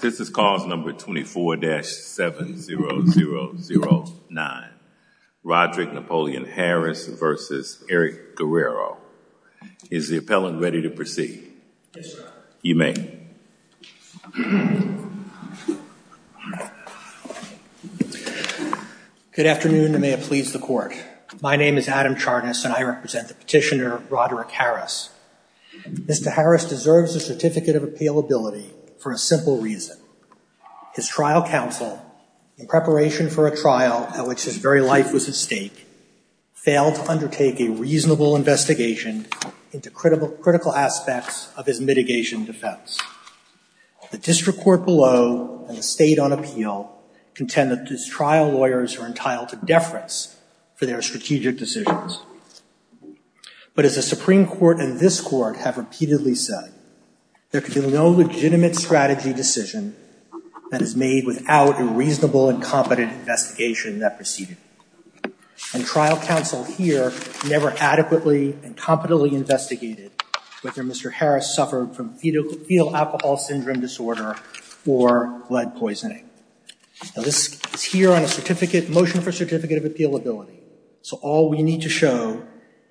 This is cause number 24-7009, Roderick Napoleon Harris v. Eric Guerrero. Is the appellant ready to proceed? You may. Good afternoon, and may it please the court. My name is Adam Charnas, and I represent the petitioner, Roderick Harris. Mr. Harris deserves a certificate of appealability for a simple reason. His trial counsel, in preparation for a trial at which his very life was at stake, failed to undertake a reasonable investigation into critical aspects of his mitigation defense. The district court below and the state on appeal contend that his trial lawyers are entitled to deference for their strategic decisions. But as the Supreme Court and this Court have repeatedly said, there can be no legitimate strategy decision that is made without a reasonable and competent investigation that preceded it. And trial counsel here never adequately and competently investigated whether Mr. Harris suffered from fetal alcohol syndrome disorder or blood poisoning. Now this is here on a motion for a certificate of appealability. So all we need to show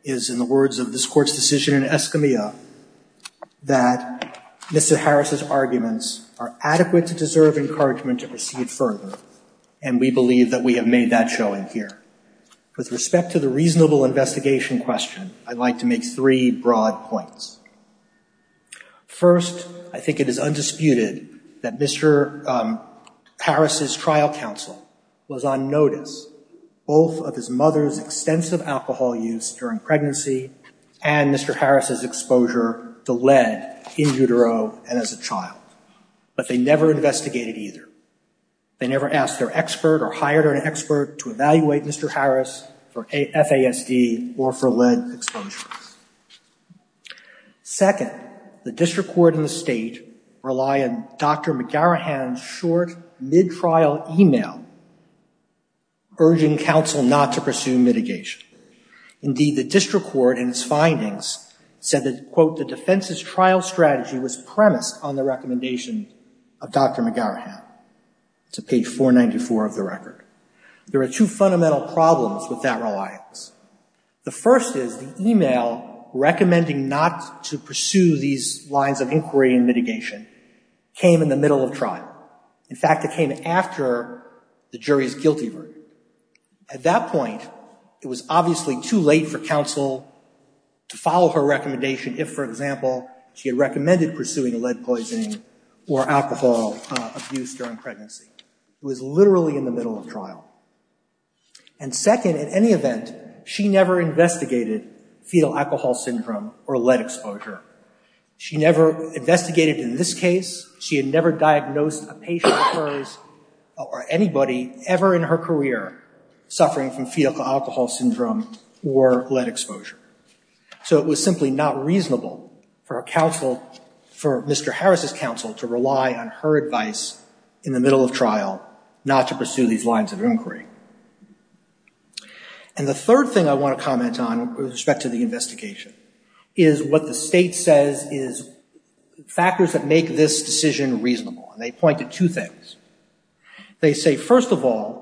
is, in the words of this Court's decision in Escamilla, that Mr. Harris's arguments are adequate to deserve encouragement to proceed further. And we believe that we have made that showing here. With respect to the reasonable investigation question, I'd like to make three broad points. First, I think it is undisputed that Mr. Harris's trial counsel was on notice both of his mother's extensive alcohol use during pregnancy and Mr. Harris's exposure to lead in utero and as a child. But they never investigated either. They never asked their expert or hired an expert to evaluate Mr. Harris for FASD or for lead exposure. Second, the District Court and the State rely on Dr. McGarrahan's short mid-trial email urging counsel not to pursue mitigation. Indeed, the District Court in its findings said that, quote, the defense's trial strategy was premised on the recommendation of Dr. McGarrahan. To page 494 of the record. There are two fundamental problems with that reliance. The first is the email recommending not to pursue these lines of inquiry and mitigation came in the middle of trial. In fact, it came after the jury's guilty verdict. At that point, it was obviously too late for counsel to follow her recommendation if, for instance, she had been pursuing lead poisoning or alcohol abuse during pregnancy. It was literally in the middle of trial. And second, in any event, she never investigated fetal alcohol syndrome or lead exposure. She never investigated in this case. She had never diagnosed a patient of hers or anybody ever in her career suffering from fetal alcohol syndrome or lead exposure. So it was simply not reasonable for a counsel, for Mr. Harris's counsel to rely on her advice in the middle of trial not to pursue these lines of inquiry. And the third thing I want to comment on with respect to the investigation is what the state says is factors that make this decision reasonable and they point to two things. They say, first of all,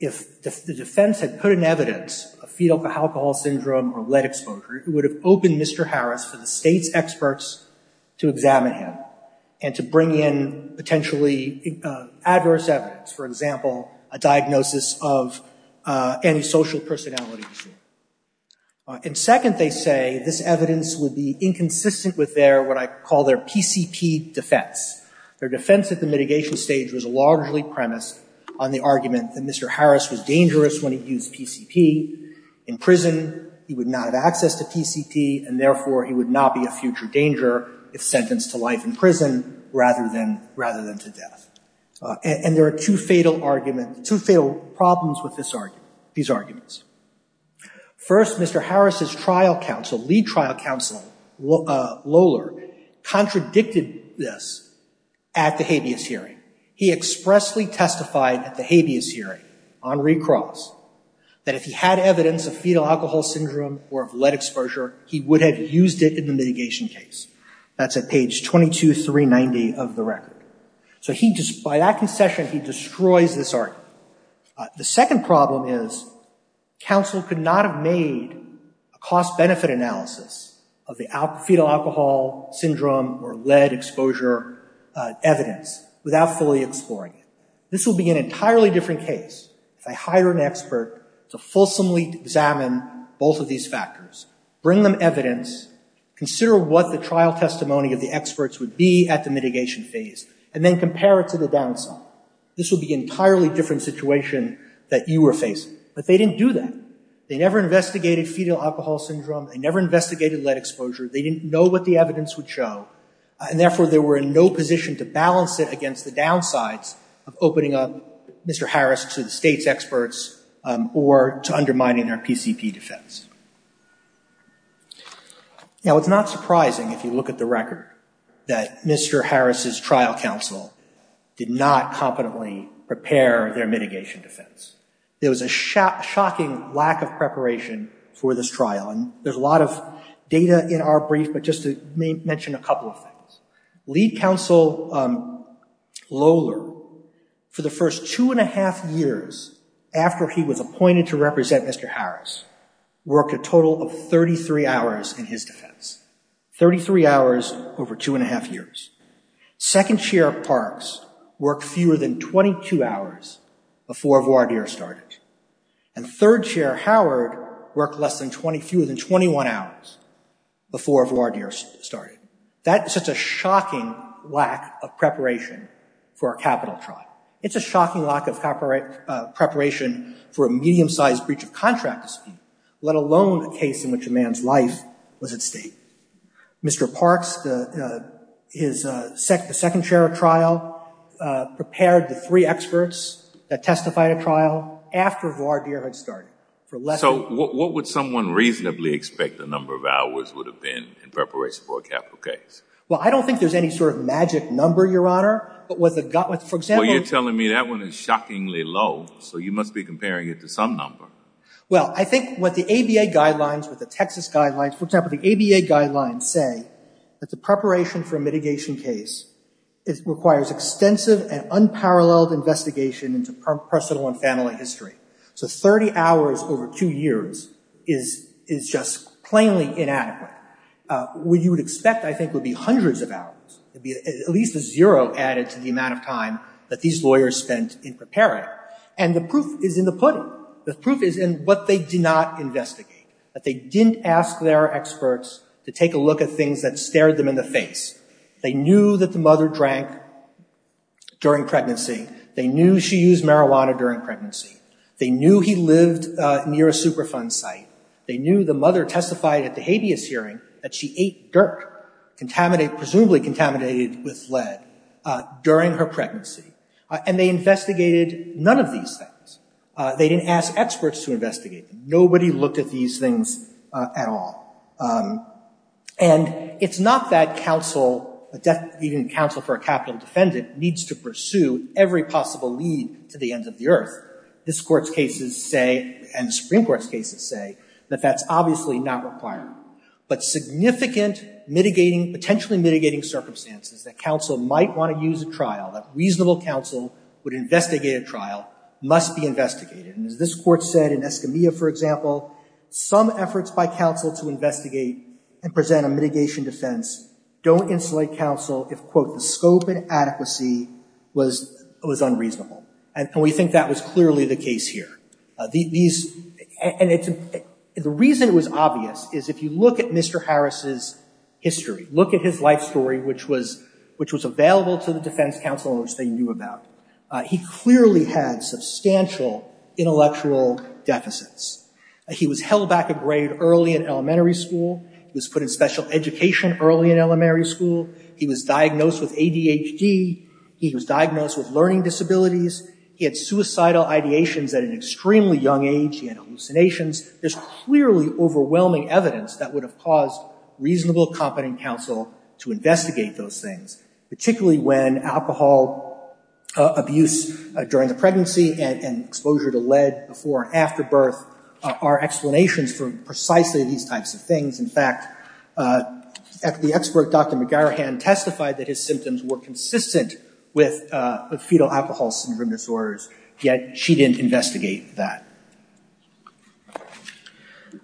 if the defense had put in evidence a fetal alcohol syndrome or lead exposure, it would have opened Mr. Harris for the state's experts to examine him and to bring in potentially adverse evidence, for example, a diagnosis of antisocial personality disorder. And second, they say this evidence would be inconsistent with their, what I call their PCP defense. Their defense at the mitigation stage was largely premised on the argument that Mr. Harris would not have access to PCP and therefore he would not be a future danger if sentenced to life in prison rather than to death. And there are two fatal arguments, two fatal problems with these arguments. First, Mr. Harris's trial counsel, lead trial counsel Lohler, contradicted this at the habeas hearing. He expressly testified at the habeas hearing on recross that if he had evidence of fetal alcohol syndrome or of lead exposure, he would have used it in the mitigation case. That's at page 22390 of the record. So he, by that concession, he destroys this argument. The second problem is counsel could not have made a cost-benefit analysis of the fetal alcohol syndrome or lead exposure evidence without fully exploring it. This would be an entirely different case if I hire an expert to fulsomely examine both of these factors, bring them evidence, consider what the trial testimony of the experts would be at the mitigation phase, and then compare it to the downside. This would be an entirely different situation that you were facing. But they didn't do that. They never investigated fetal alcohol syndrome, they never investigated lead exposure, they didn't know what the evidence would show, and therefore they were in no position to balance it against the downsides of opening up Mr. Harris to the state's experts or to undermining their PCP defense. Now, it's not surprising if you look at the record that Mr. Harris' trial counsel did not competently prepare their mitigation defense. There was a shocking lack of preparation for this trial. And there's a lot of data in our brief, but just to mention a couple of things. Lead counsel Lohler, for the first two and a half years after he was appointed to represent Mr. Harris, worked a total of 33 hours in his defense. Thirty-three hours over two and a half years. Second chair Parks worked fewer than 22 hours before voir dire started. And third chair Howard worked fewer than 21 hours before voir dire started. That's just a shocking lack of preparation for a capital trial. It's a shocking lack of preparation for a medium-sized breach of contract dispute, let alone a case in which a man's life was at stake. Mr. Parks, the second chair of trial, prepared the three experts that testified at trial after voir dire had started. So what would someone reasonably expect the number of hours would have been in preparation for a capital case? Well, I don't think there's any sort of magic number, Your Honor. But with a gut, for example- Well, you're telling me that one is shockingly low, so you must be comparing it to some number. Well, I think what the ABA guidelines, with the Texas guidelines, for example, the ABA guidelines say that the preparation for a mitigation case requires extensive and unparalleled investigation into personal and family history. So 30 hours over two years is just plainly inadequate. What you would expect, I think, would be hundreds of hours. It'd be at least a zero added to the amount of time that these lawyers spent in preparing. And the proof is in the pudding. The proof is in what they did not investigate. That they didn't ask their experts to take a look at things that stared them in the face. They knew that the mother drank during pregnancy. They knew she used marijuana during pregnancy. They knew he lived near a Superfund site. They knew the mother testified at the habeas hearing that she ate dirt, presumably contaminated with lead, during her pregnancy. And they investigated none of these things. They didn't ask experts to investigate them. Nobody looked at these things at all. And it's not that counsel, even counsel for a capital defendant, needs to pursue every possible lead to the ends of the earth. This Court's cases say, and the Supreme Court's cases say, that that's obviously not required. But significant mitigating, potentially mitigating circumstances that counsel might want to use a trial, that reasonable counsel would investigate a trial, must be investigated. And as this Court said in Escamilla, for example, some efforts by counsel to investigate and present a mitigation defense don't insulate counsel if, quote, the scope and adequacy was unreasonable. And we think that was clearly the case here. The reason it was obvious is, if you look at Mr. Harris's history, look at his life story, which was available to the defense counsel, which they knew about, he clearly had substantial intellectual deficits. He was held back a grade early in elementary school. He was put in special education early in elementary school. He was diagnosed with ADHD. He was diagnosed with learning disabilities. He had suicidal ideations at an extremely young age. He had hallucinations. There's clearly overwhelming evidence that would have caused reasonable, competent counsel to investigate those things, particularly when alcohol abuse during the pregnancy and exposure to lead before and after birth are explanations for precisely these types of things. In fact, the expert, Dr. McGarrihan, testified that his symptoms were consistent with fetal alcohol syndrome disorders, yet she didn't investigate that.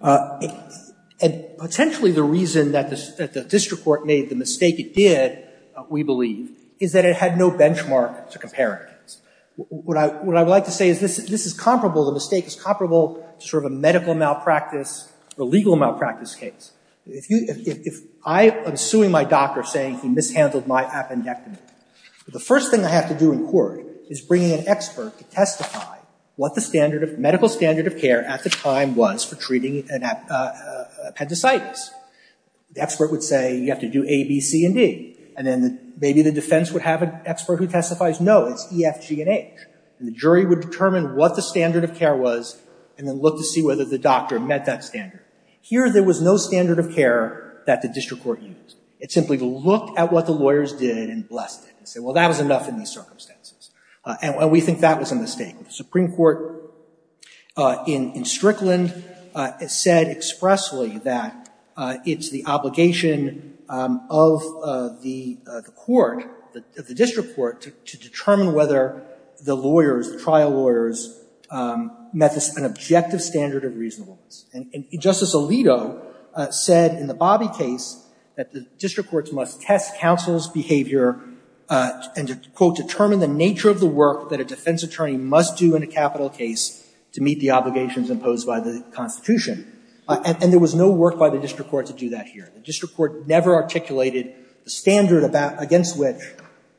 And potentially the reason that the district court made the mistake it did, we believe, is that it had no benchmark to compare against. What I would like to say is this is comparable. The mistake is comparable to sort of a medical malpractice or legal malpractice case. If I am suing my doctor saying he mishandled my appendectomy, the first thing I have to do in court is bringing an expert to testify what the medical standard of care at the time was for treating appendicitis. The expert would say, you have to do A, B, C, and D. And then maybe the defense would have an expert who testifies, no, it's E, F, G, and H. And the jury would determine what the standard of care was and then look to see whether the doctor met that standard. Here, there was no standard of care that the district court used. It simply looked at what the lawyers did and blessed it and said, well, that was enough in these circumstances. And we think that was a mistake. The Supreme Court in Strickland said expressly that it's the obligation of the court, of the district court, to determine whether the lawyers, the trial lawyers, met an objective standard of reasonableness. And Justice Alito said in the Bobby case that the district courts must test counsel's behavior and to, quote, determine the nature of the work that a defense attorney must do in a capital case to meet the obligations imposed by the Constitution. And there was no work by the district court to do that here. The district court never articulated the standard against which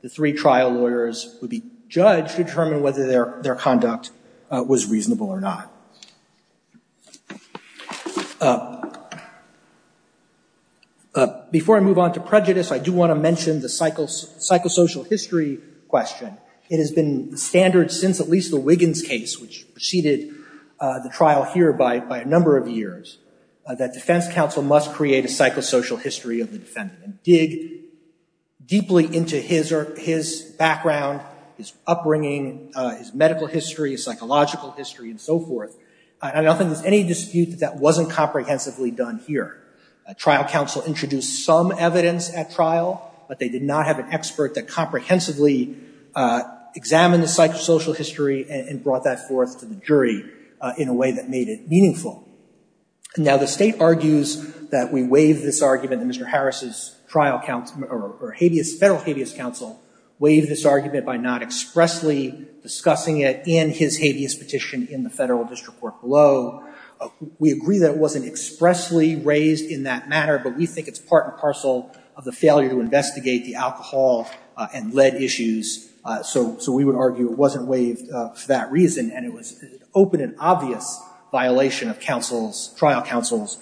the three trial lawyers would be judged to determine whether their conduct was reasonable or not. Before I move on to prejudice, I do want to mention the psychosocial history question. It has been the standard since at least the Wiggins case, which preceded the trial here by a number of years, that defense counsel must create a psychosocial history of the defendant and dig deeply into his background, his upbringing, his medical history, his psychological history, and so forth. I don't think there's any dispute that that wasn't comprehensively done here. Trial counsel introduced some evidence at trial, but they did not have an expert that comprehensively examined the psychosocial history and brought that forth to the jury in a way that made it meaningful. Now, the state argues that we waive this argument and Mr. Harris's federal habeas counsel waived this argument by not expressly discussing it in his habeas petition in the federal district court below. We agree that it wasn't expressly raised in that matter, but we think it's part and parcel of the failure to investigate the alcohol and lead issues. So we would argue it wasn't waived for that reason and it was an open and obvious violation of trial counsel's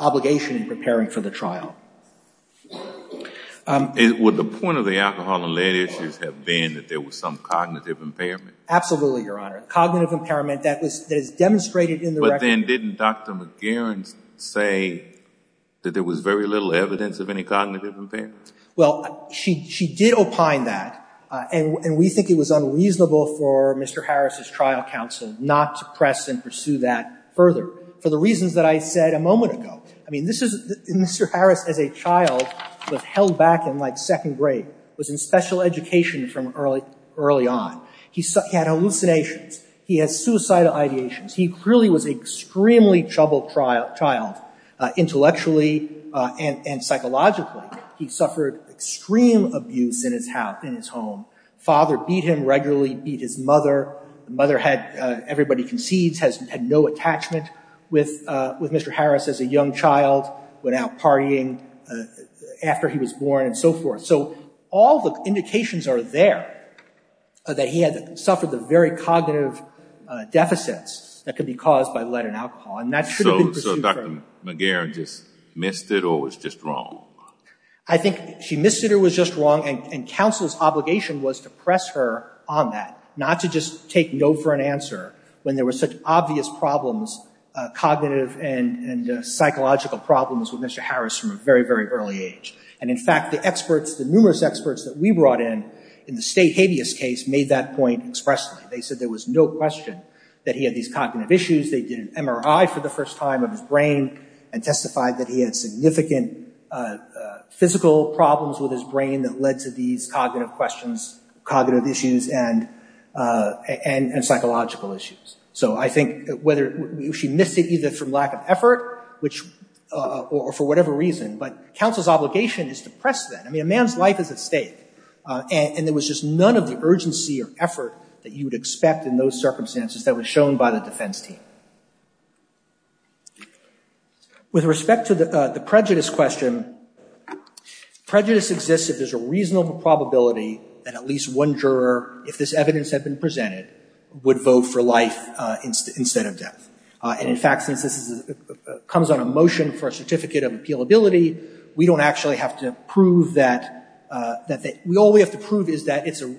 obligation in preparing for the trial. Would the point of the alcohol and lead issues have been that there was some cognitive impairment? Absolutely, Your Honor. Cognitive impairment that is demonstrated in the record. But then didn't Dr. McGarren say that there was very little evidence of any cognitive impairment? Well, she did opine that, and we think it was unreasonable for Mr. Harris's trial counsel not to press and pursue that further for the reasons that I said a moment ago. I mean, Mr. Harris as a child was held back in like second grade, was in special education from early on. He had hallucinations. He has suicidal ideations. He really was an extremely troubled child, intellectually and psychologically. He suffered extreme abuse in his home. Father beat him regularly, beat his mother. Mother had, everybody concedes, has had no attachment with Mr. Harris as a young child, went out partying after he was born and so forth. So all the indications are there that he had suffered the very cognitive deficits that could be caused by lead and alcohol, and that should have been pursued further. So Dr. McGarren just missed it or was just wrong? I think she missed it or was just wrong, and counsel's obligation was to press her on that, not to just take no for an answer when there were such obvious problems, cognitive and psychological problems with Mr. Harris from a very, very early age. And in fact, the experts, the numerous experts that we brought in in the state habeas case made that point expressly. They said there was no question that he had these cognitive issues. They did an MRI for the first time of his brain and testified that he had significant physical problems with his brain that led to these cognitive questions, cognitive issues and psychological issues. So I think whether she missed it either from lack of effort or for whatever reason, but counsel's obligation is to press that. I mean, a man's life is at stake, and there was just none of the urgency or effort that you would expect in those circumstances that was shown by the defense team. With respect to the prejudice question, prejudice exists if there's a reasonable probability that at least one juror, if this evidence had been presented, would vote for life instead of death. And in fact, since this comes on a motion for a certificate of appealability, we don't actually have to prove that. All we have to prove is that it's a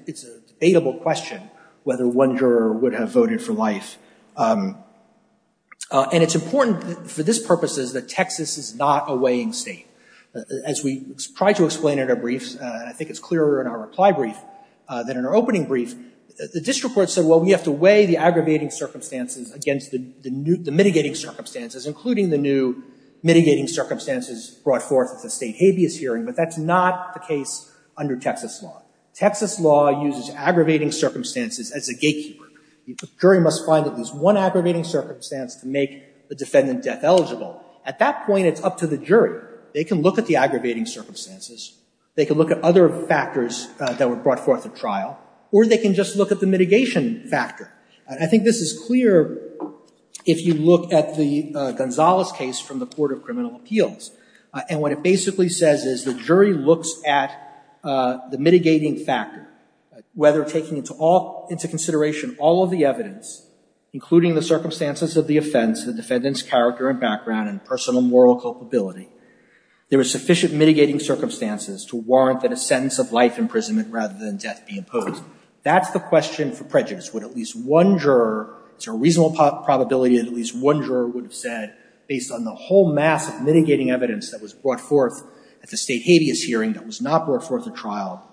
debatable question whether one juror would have voted for life. And it's important for this purposes that Texas is not a weighing state. As we tried to explain in our briefs, and I think it's clearer in our reply brief than in our opening brief, the district court said, well, we have to weigh the aggravating circumstances against the mitigating circumstances, including the new mitigating circumstances brought forth at the state habeas hearing, but that's not the case under Texas law. Texas law uses aggravating circumstances as a gatekeeper. The jury must find that there's one aggravating circumstance to make the defendant death eligible. At that point, it's up to the jury. They can look at the aggravating circumstances. They can look at other factors that were brought forth at trial, or they can just look at the mitigation factor. I think this is clear if you look at the Gonzales case from the Court of Criminal Appeals. And what it basically says is the jury looks at the mitigating factor, whether taking into consideration all of the evidence, including the circumstances of the offense, the defendant's character and background and personal moral culpability, there are sufficient mitigating circumstances to warrant that a sentence of life imprisonment rather than death be imposed. That's the question for prejudice. Would at least one juror, it's a reasonable probability that at least one juror would have said, based on the whole mass of mitigating evidence that was brought forth at the state habeas hearing that was not brought forth at trial,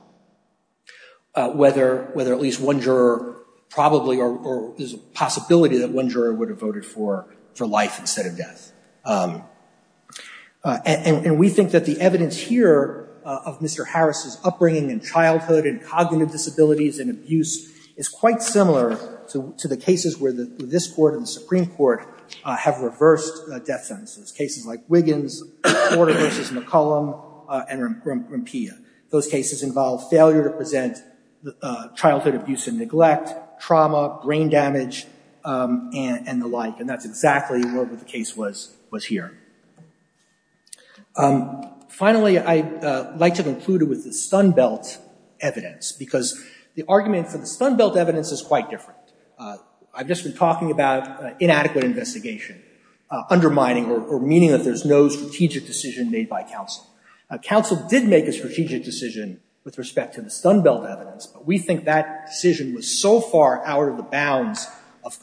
whether at least one juror probably, or there's a possibility that one juror would have voted for life instead of death. And we think that the evidence here of Mr. Harris's upbringing and childhood and cognitive disabilities and abuse is quite similar to the cases where this court and the Supreme Court have reversed death sentences. Cases like Wiggins, Porter v. McCollum, and Rampea. Those cases involve failure to present childhood abuse and neglect, trauma, brain damage, and the like. And that's exactly what the case was here. Finally, I'd like to conclude it with the Stun Belt evidence, because the argument for the Stun Belt evidence is quite different. I've just been talking about inadequate investigation, undermining or meaning that there's no strategic decision made by counsel. Counsel did make a strategic decision with respect to the Stun Belt evidence, but we think that decision was so far out of the bounds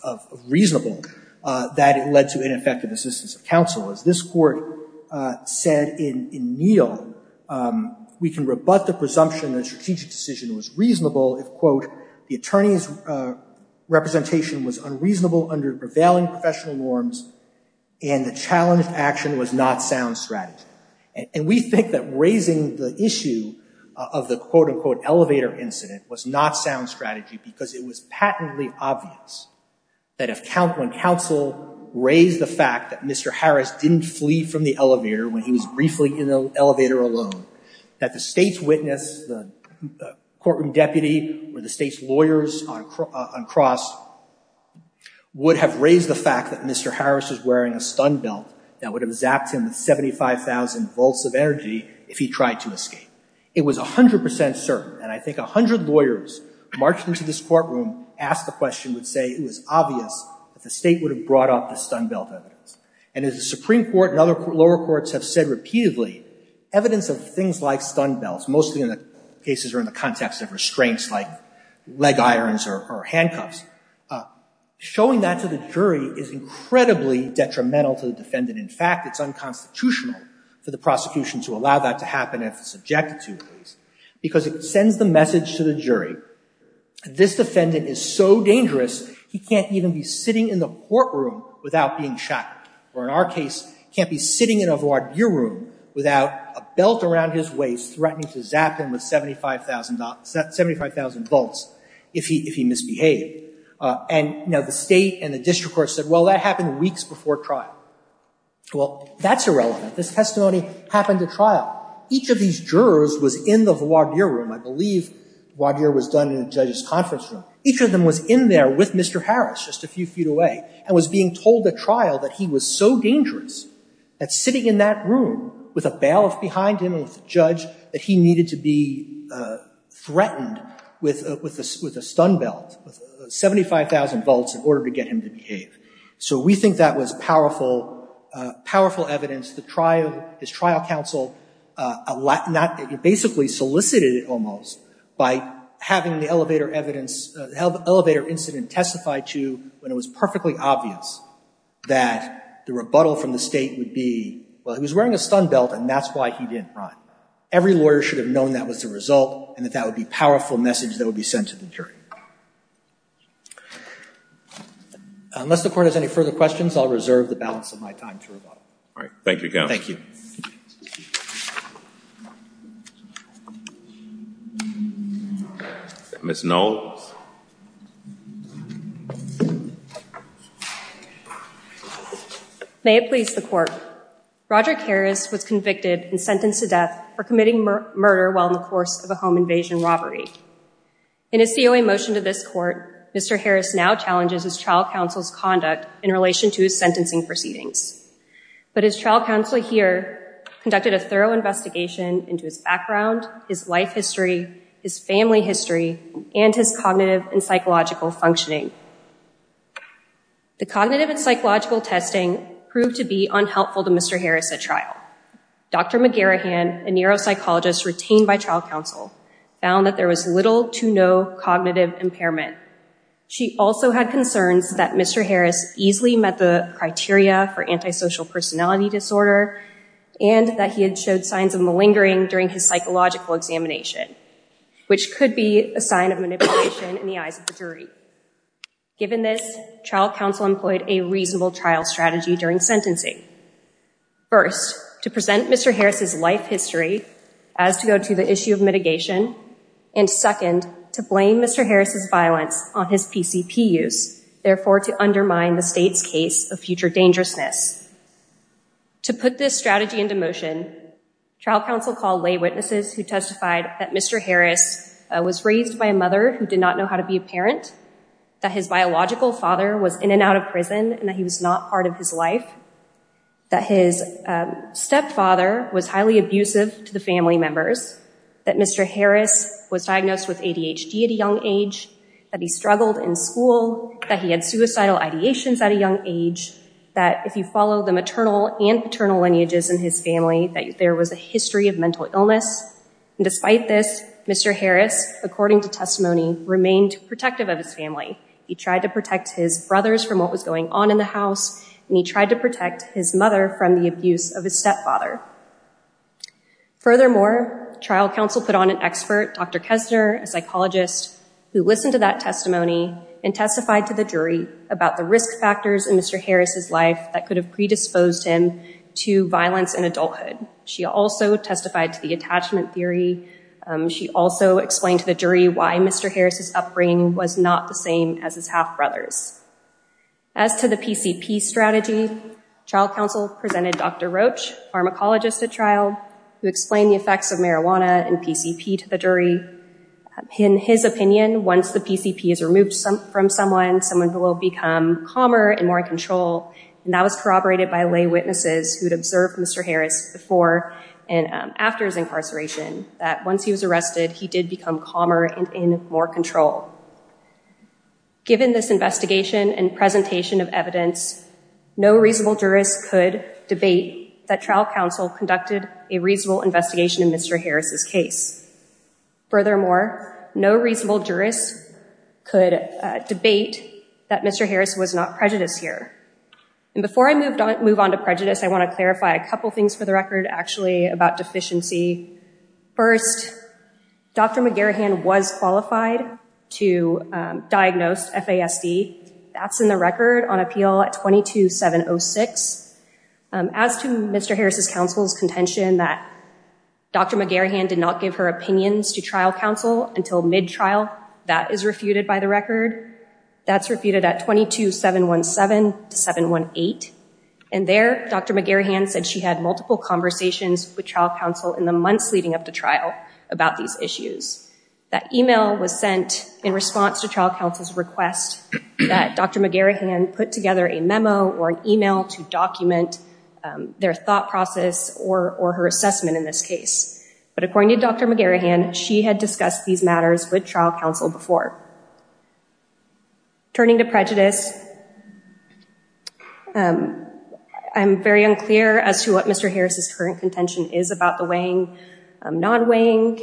of reasonable that it led to ineffective assistance of counsel. As this court said in Neal, we can rebut the presumption that strategic decision was reasonable if, quote, the attorney's representation was unreasonable under prevailing professional norms and the challenged action was not sound strategy. And we think that raising the issue of the quote, unquote, elevator incident was not sound strategy, because it was patently obvious that when counsel raised the fact that Mr. Harris didn't flee from the elevator when he was briefly in the elevator alone, that the state's witness, the courtroom deputy, or the state's lawyers on cross would have raised the fact that Mr. Harris was wearing a Stun Belt that would have zapped him with 75,000 volts of energy if he tried to escape. It was 100% certain, and I think 100 lawyers marched into this courtroom, asked the question, would say it was obvious that the state would have brought up the Stun Belt evidence. And as the Supreme Court and other lower courts have said repeatedly, evidence of things like Stun Belts, mostly in the cases or in the context of restraints like leg irons or handcuffs, showing that to the jury is incredibly detrimental to the defendant. In fact, it's unconstitutional for the prosecution to allow that to happen if it's objected to, because it sends the message to the jury, this defendant is so dangerous, he can't even be sitting in the courtroom without being shackled, or in our case, can't be sitting in a voir dire room without a belt around his waist threatening to zap him with 75,000 volts if he misbehaved. And now the state and the district court said, well, that happened weeks before trial. Well, that's irrelevant. This testimony happened at trial. Each of these jurors was in the voir dire room. I believe voir dire was done in a judge's conference room. Each of them was in there with Mr. Harris, just a few feet away, and was being told at trial that he was so dangerous that sitting in that room with a bailiff behind him and with a judge, that he needed to be threatened with a Stun Belt, 75,000 volts in order to get him to behave. So we think that was powerful, powerful evidence that his trial counsel basically solicited it almost by having the elevator incident testified to when it was perfectly obvious that the rebuttal from the state would be, well, he was wearing a Stun Belt and that's why he didn't run. Every lawyer should have known that was the result and that that would be a powerful message that would be sent to the jury. Unless the court has any further questions, I'll reserve the balance of my time to rebuttal. All right, thank you again. Thank you. Ms. Knoll. May it please the court. Roderick Harris was convicted and sentenced to death for committing murder while in the course of a home invasion robbery. In his COA motion to this court, Mr. Harris now challenges his trial counsel's conduct in relation to his sentencing proceedings. But his trial counsel here conducted a thorough investigation into his background, his life history, his family history and his cognitive and psychological functioning. The cognitive and psychological testing proved to be unhelpful to Mr. Harris at trial. Dr. McGarahan, a neuropsychologist retained by trial counsel, found that there was little to no cognitive impairment. She also had concerns that Mr. Harris easily met the criteria for antisocial personality disorder and that he had showed signs of malingering during his psychological examination, which could be a sign of manipulation in the eyes of the jury. Given this, trial counsel employed a reasonable trial strategy during sentencing. First, to present Mr. Harris' life history as to go to the issue of mitigation and second, to blame Mr. Harris' violence on his PCP use, therefore to undermine the state's case of future dangerousness. To put this strategy into motion, trial counsel called lay witnesses who testified that Mr. Harris was raised by a mother who did not know how to be a parent, that his biological father was in and out of prison and that he was not part of his life, that his stepfather was highly abusive to the family members, that Mr. Harris was diagnosed with ADHD at a young age, that he struggled in school, that he had suicidal ideations at a young age, that if you follow the maternal and paternal lineages in his family, that there was a history of mental illness and despite this, Mr. Harris, according to testimony, remained protective of his family. He tried to protect his brothers from what was going on in the house and he tried to protect his mother from the abuse of his stepfather. Furthermore, trial counsel put on an expert, Dr. Kessner, a psychologist, who listened to that testimony and testified to the jury about the risk factors in Mr. Harris' life that could have predisposed him to violence in adulthood. She also testified to the attachment theory. She also explained to the jury why Mr. Harris' upbringing was not the same as his half-brothers. As to the PCP strategy, trial counsel presented Dr. Roach, pharmacologist at trial, who explained the effects of marijuana and PCP to the jury. In his opinion, once the PCP is removed from someone, someone will become calmer and more in control and that was corroborated by lay witnesses who had observed Mr. Harris before and after his incarceration, that once he was arrested, he did become calmer and in more control. Given this investigation and presentation of evidence, no reasonable jurist could debate that trial counsel conducted a reasonable investigation in Mr. Harris' case. Furthermore, no reasonable jurist could debate that Mr. Harris was not prejudiced here. And before I move on to prejudice, I wanna clarify a couple things for the record, actually, about deficiency. First, Dr. McGarrihan was qualified to diagnose FASD. That's in the record on appeal at 22706. As to Mr. Harris' counsel's contention that Dr. McGarrihan did not give her opinions to trial counsel until mid-trial, that is refuted by the record. That's refuted at 22717 to 718. And there, Dr. McGarrihan said she had multiple conversations with trial counsel in the months leading up to trial about these issues. That email was sent in response to trial counsel's request that Dr. McGarrihan put together a memo or an email to document their thought process or her assessment in this case. But according to Dr. McGarrihan, she had discussed these matters with trial counsel before. Turning to prejudice, I'm very unclear as to what Mr. Harris' current contention is about the weighing, non-weighing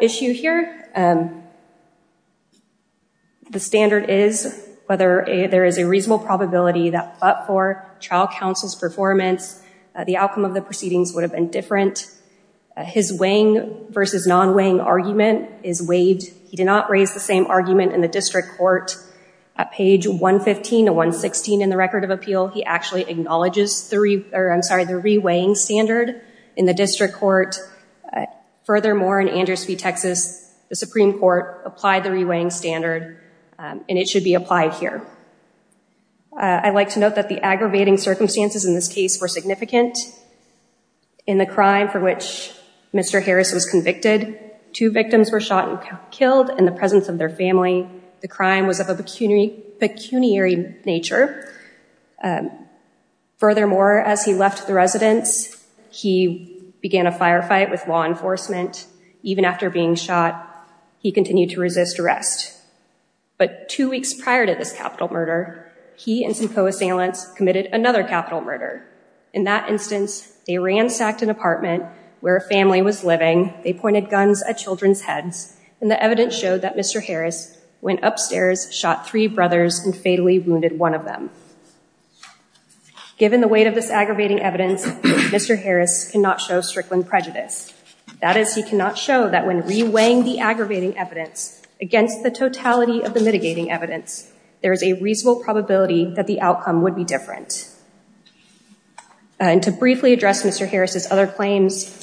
issue here. The standard is whether there is a reasonable probability that but for trial counsel's performance, the outcome of the proceedings would have been different. His weighing versus non-weighing argument is waived. He did not raise the same argument in the district court. At page 115 to 116 in the record of appeal, he actually acknowledges the re-weighing standard in the district court. Furthermore, in Andersby, Texas, the Supreme Court applied the re-weighing standard and it should be applied here. I'd like to note that the aggravating circumstances in this case were significant. In the crime for which Mr. Harris was convicted, two victims were shot and killed in the presence of their family. The crime was of a pecuniary nature. Furthermore, as he left the residence, he began a firefight with law enforcement. Even after being shot, he continued to resist arrest. But two weeks prior to this capital murder, he and some co-assailants committed another capital murder. In that instance, they ransacked an apartment where a family was living. They pointed guns at children's heads and the evidence showed that Mr. Harris went upstairs, shot three brothers, and fatally wounded one of them. Given the weight of this aggravating evidence, Mr. Harris cannot show strickling prejudice. That is, he cannot show that when re-weighing the aggravating evidence against the totality of the mitigating evidence, there is a reasonable probability that the outcome would be different. And to briefly address Mr. Harris's other claims,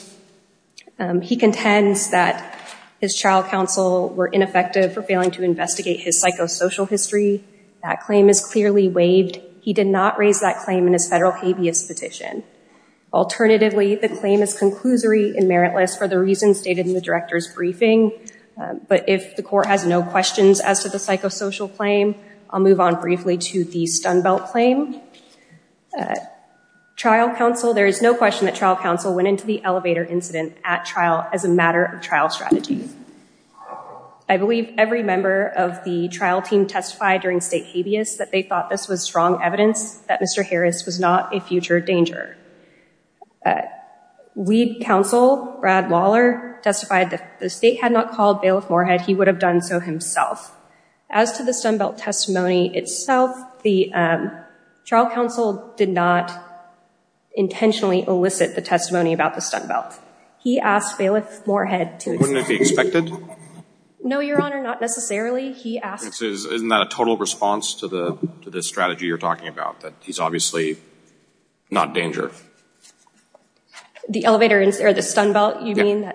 he contends that his trial counsel were ineffective for failing to investigate his psychosocial history. That claim is clearly waived. He did not raise that claim in his federal habeas petition. Alternatively, the claim is conclusory and meritless for the reasons stated in the director's briefing. But if the court has no questions as to the psychosocial claim, I'll move on briefly to the Stun Belt claim. Trial counsel, there is no question that trial counsel went into the elevator incident at trial as a matter of trial strategy. I believe every member of the trial team testified during state habeas that they thought this was strong evidence that Mr. Harris was not a future danger. Weed counsel, Brad Waller, testified that if the state had not called Bailiff-Moorhead, he would have done so himself. As to the Stun Belt testimony itself, the trial counsel did not intentionally elicit the testimony about the Stun Belt. He asked Bailiff-Moorhead to- Wouldn't it be expected? No, Your Honor, not necessarily. He asked- Isn't that a total response to the strategy you're talking about, that he's obviously not danger? The elevator incident, or the Stun Belt, you mean?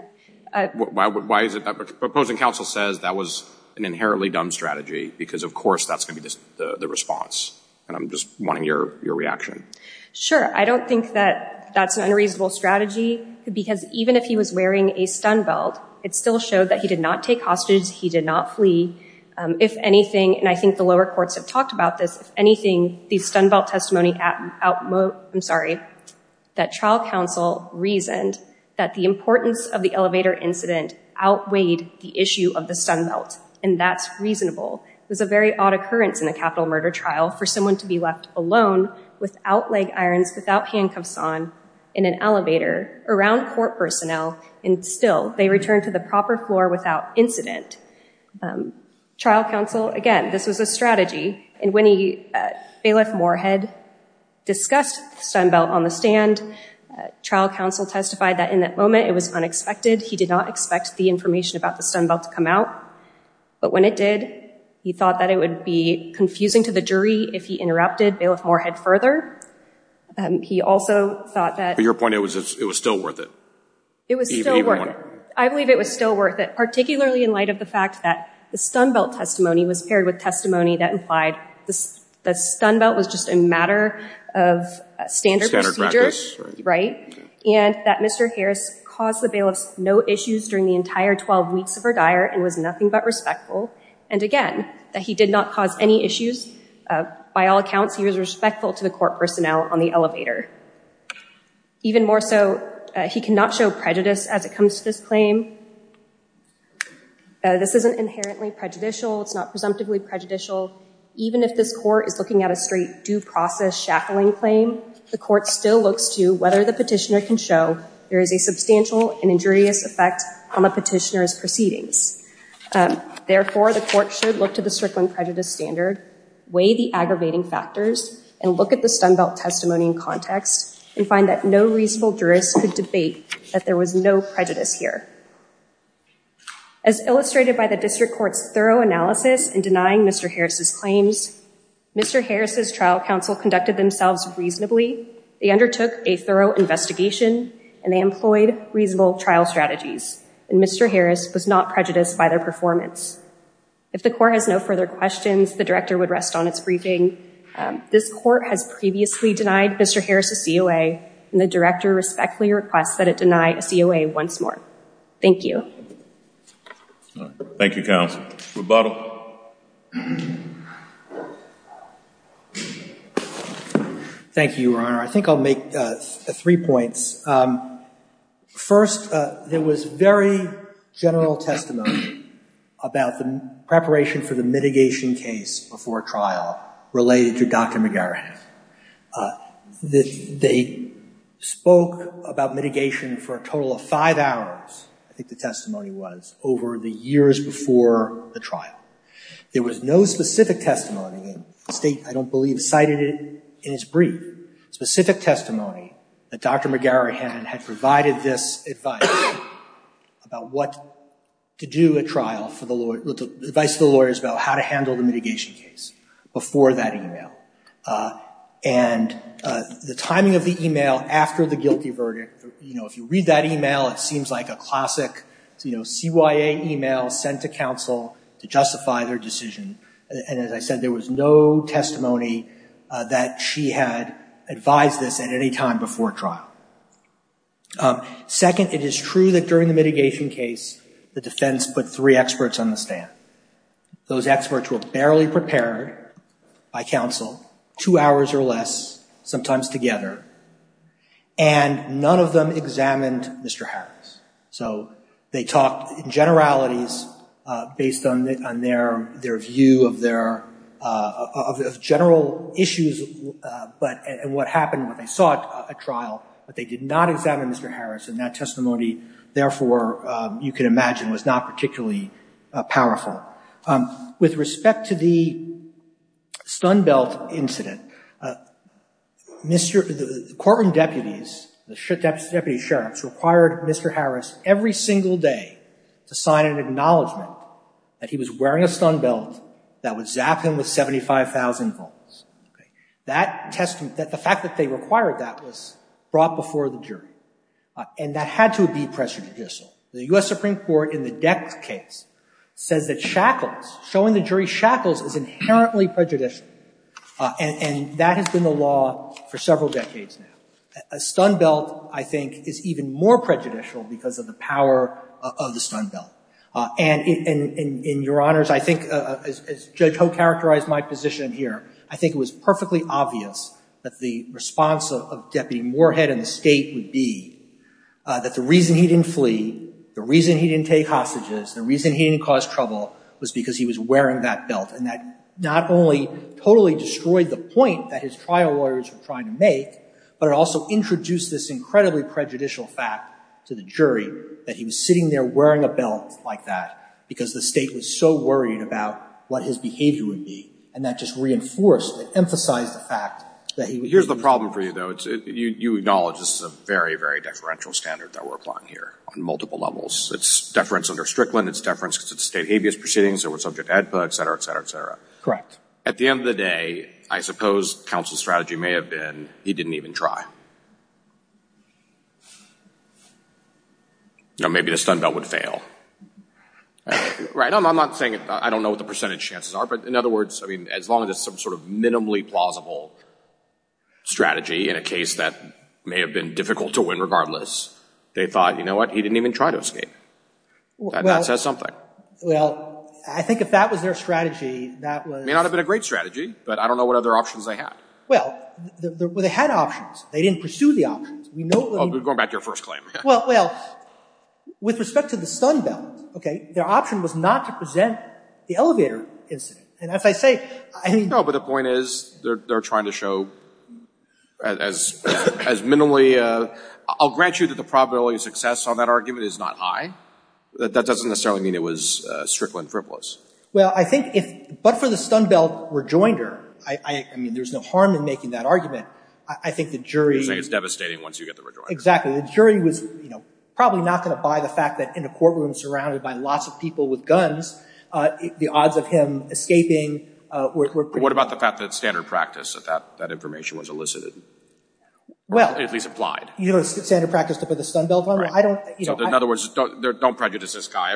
Why is it that the proposing counsel says that was an inherently dumb strategy? Because, of course, that's gonna be the response. And I'm just wanting your reaction. Sure, I don't think that that's an unreasonable strategy, because even if he was wearing a Stun Belt, it still showed that he did not take hostage, he did not flee. If anything, and I think the lower courts have talked about this, if anything, the Stun Belt testimony out- I'm sorry, that trial counsel reasoned that the importance of the elevator incident outweighed the issue of the Stun Belt, and that's reasonable. It was a very odd occurrence in a capital murder trial for someone to be left alone, without leg irons, without handcuffs on, in an elevator, around court personnel, and still, they returned to the proper floor without incident. Trial counsel, again, this was a strategy. And when he, Bailiff Moorhead, discussed the Stun Belt on the stand, trial counsel testified that in that moment it was unexpected, he did not expect the information about the Stun Belt to come out, but when it did, he thought that it would be confusing to the jury if he interrupted Bailiff Moorhead further. He also thought that- But your point, it was still worth it. It was still worth it. I believe it was still worth it, particularly in light of the fact that the Stun Belt testimony was paired with testimony that implied the Stun Belt was just a matter of standard procedure, right? And that Mr. Harris caused the Bailiff no issues during the entire 12 weeks of her dire, and was nothing but respectful. And again, that he did not cause any issues. By all accounts, he was respectful to the court personnel on the elevator. Even more so, he cannot show prejudice as it comes to this claim. This isn't inherently prejudicial. It's not presumptively prejudicial. Even if this court is looking at a straight due process shackling claim, the court still looks to whether the petitioner can show there is a substantial and injurious effect on the petitioner's proceedings. Therefore, the court should look to the Strickland prejudice standard, weigh the aggravating factors, and look at the Stun Belt testimony in context, and find that no reasonable jurist could debate that there was no prejudice here. As illustrated by the district court's thorough analysis in denying Mr. Harris's claims, Mr. Harris's trial counsel conducted themselves reasonably. They undertook a thorough investigation, and they employed reasonable trial strategies. And Mr. Harris was not prejudiced by their performance. If the court has no further questions, the director would rest on its briefing. This court has previously denied Mr. Harris a COA, and the director respectfully requests that it deny a COA once more. Thank you. Thank you, counsel. Rebuttal. Thank you, Your Honor. I think I'll make three points. First, there was very general testimony about the preparation for the mitigation case before trial related to Dr. McGarrett. They spoke about mitigation for a total of five hours, I think the testimony was, over the years before the trial. There was no specific testimony, the state, I don't believe, cited it in its brief. Specific testimony that Dr. McGarrett had provided this advice about what to do at trial, advice to the lawyers about how to handle the mitigation case before that email. And the timing of the email after the guilty verdict, if you read that email, it seems like a classic CYA email sent to counsel to justify their decision. And as I said, there was no testimony that she had advised this at any time before trial. Second, it is true that during the mitigation case, the defense put three experts on the stand. Those experts were barely prepared by counsel, two hours or less, sometimes together, and none of them examined Mr. Harris. So they talked in generalities based on their view of general issues and what happened when they sought a trial, but they did not examine Mr. Harris, and that testimony, therefore, you can imagine, was not particularly powerful. With respect to the Stun Belt incident, the courtroom deputies, the deputy sheriffs, required Mr. Harris every single day to sign an acknowledgment that he was wearing a Stun Belt that would zap him with 75,000 volts. That testament, the fact that they required that was brought before the jury, and that had to be pressure judicial. The U.S. Supreme Court, in the Dex case, says that shackles, showing the jury shackles is inherently prejudicial, and that has been the law for several decades now. A Stun Belt, I think, is even more prejudicial because of the power of the Stun Belt. And in your honors, I think, as Judge Ho characterized my position here, I think it was perfectly obvious that the response of Deputy Moorhead and the state would be that the reason he didn't flee, the reason he didn't take hostages, the reason he didn't cause trouble was because he was wearing that belt, and that not only totally destroyed the point that his trial lawyers were trying to make, but it also introduced this incredibly prejudicial fact to the jury that he was sitting there wearing a belt like that because the state was so worried about what his behavior would be, and that just reinforced, it emphasized the fact that he would be- Here's the problem for you, though. You acknowledge this is a very, very deferential standard that we're applying here on multiple levels. It's deference under Strickland, it's deference to state habeas proceedings that were subject to AEDPA, et cetera, et cetera, et cetera. Correct. At the end of the day, I suppose counsel's strategy may have been he didn't even try. Now, maybe the stun belt would fail. Right, I'm not saying, I don't know what the percentage chances are, but in other words, I mean, as long as it's some sort of minimally plausible strategy in a case that may have been difficult to win regardless, they thought, you know what? He didn't even try to escape. That says something. Well, I think if that was their strategy, that was- May not have been a great strategy, but I don't know what other options they had. Well, they had options. They didn't pursue the options. We know- Going back to your first claim. Well, with respect to the stun belt, okay, their option was not to present the elevator incident. And as I say, I mean- No, but the point is they're trying to show as minimally, I'll grant you that the probability of success on that argument is not high. That doesn't necessarily mean it was Strickland frivolous. Well, I think if, but for the stun belt rejoinder, I mean, there's no harm in making that argument. I think the jury- You're saying it's devastating once you get the rejoinder. Exactly. The jury was, you know, probably not going to buy the fact that in a courtroom surrounded by lots of people with guns, the odds of him escaping were- What about the fact that standard practice that that information was elicited? Well- At least applied. You know, standard practice to put the stun belt on? I don't- In other words, don't prejudice this guy.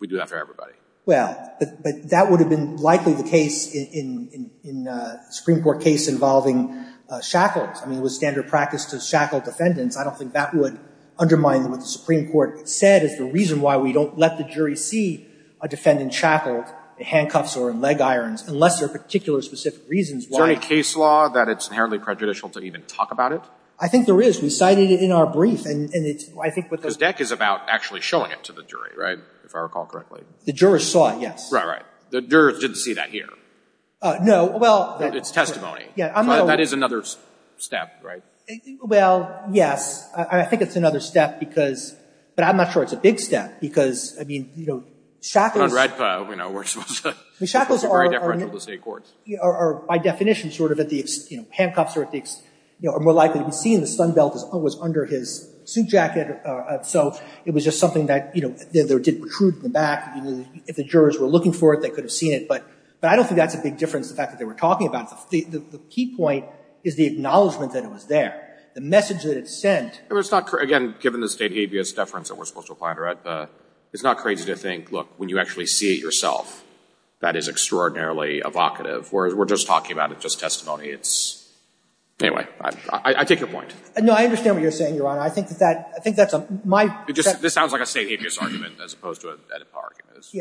We do that for everybody. Well, but that would have been likely the case in a Supreme Court case involving shackles. I mean, it was standard practice to shackle defendants. I don't think that would undermine what the Supreme Court said. It's the reason why we don't let the jury see a defendant shackled in handcuffs or in leg irons, unless there are particular specific reasons why. Is there any case law that it's inherently prejudicial to even talk about it? I think there is. We cited it in our brief and it's, I think what the- The deck is about actually showing it to the jury, right? If I recall correctly. The jurors saw it, yes. Right, right. The jurors didn't see that here. No, well- It's testimony. Yeah, I'm not- That is another step, right? Well, yes. I think it's another step because, but I'm not sure it's a big step because, I mean, you know, shackles- On red file, you know, we're supposed to- The shackles are- It's very deferential to state courts. By definition, sort of at the, you know, handcuffs are at the, you know, are more likely to be seen. The stun belt was under his suit jacket. So it was just something that, you know, there did protrude in the back. If the jurors were looking for it, they could have seen it, but I don't think that's a big difference, the fact that they were talking about it. The key point is the acknowledgment that it was there. The message that it sent- It was not, again, given the state habeas deference that we're supposed to apply under AEDPA, it's not crazy to think, look, when you actually see it yourself, that is extraordinarily evocative. Whereas we're just talking about it, just testimony. It's, anyway, I take your point. No, I understand what you're saying, Your Honor. I think that that, I think that's a, my- This sounds like a state habeas argument as opposed to an AEDPA argument.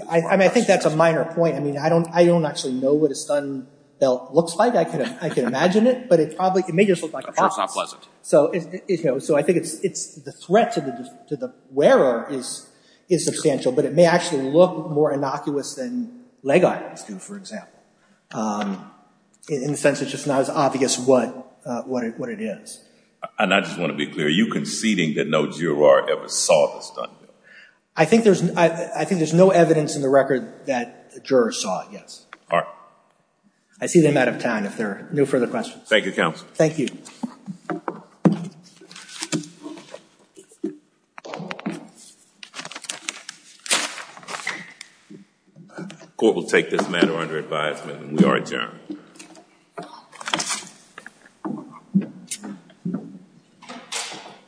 I mean, I think that's a minor point. I mean, I don't actually know what a stun belt looks like. I can imagine it, but it probably, it may just look like a box. So, you know, so I think it's, the threat to the wearer is substantial, but it may actually look more innocuous than leg irons do, for example, in the sense it's just not as obvious what it is. And I just want to be clear, are you conceding that no juror ever saw the stun belt? I think there's, I think there's no evidence in the record that the juror saw it, yes. All right. I see them out of time. If there are no further questions. Thank you, counsel. Thank you. Court will take this matter under advisement. We are adjourned.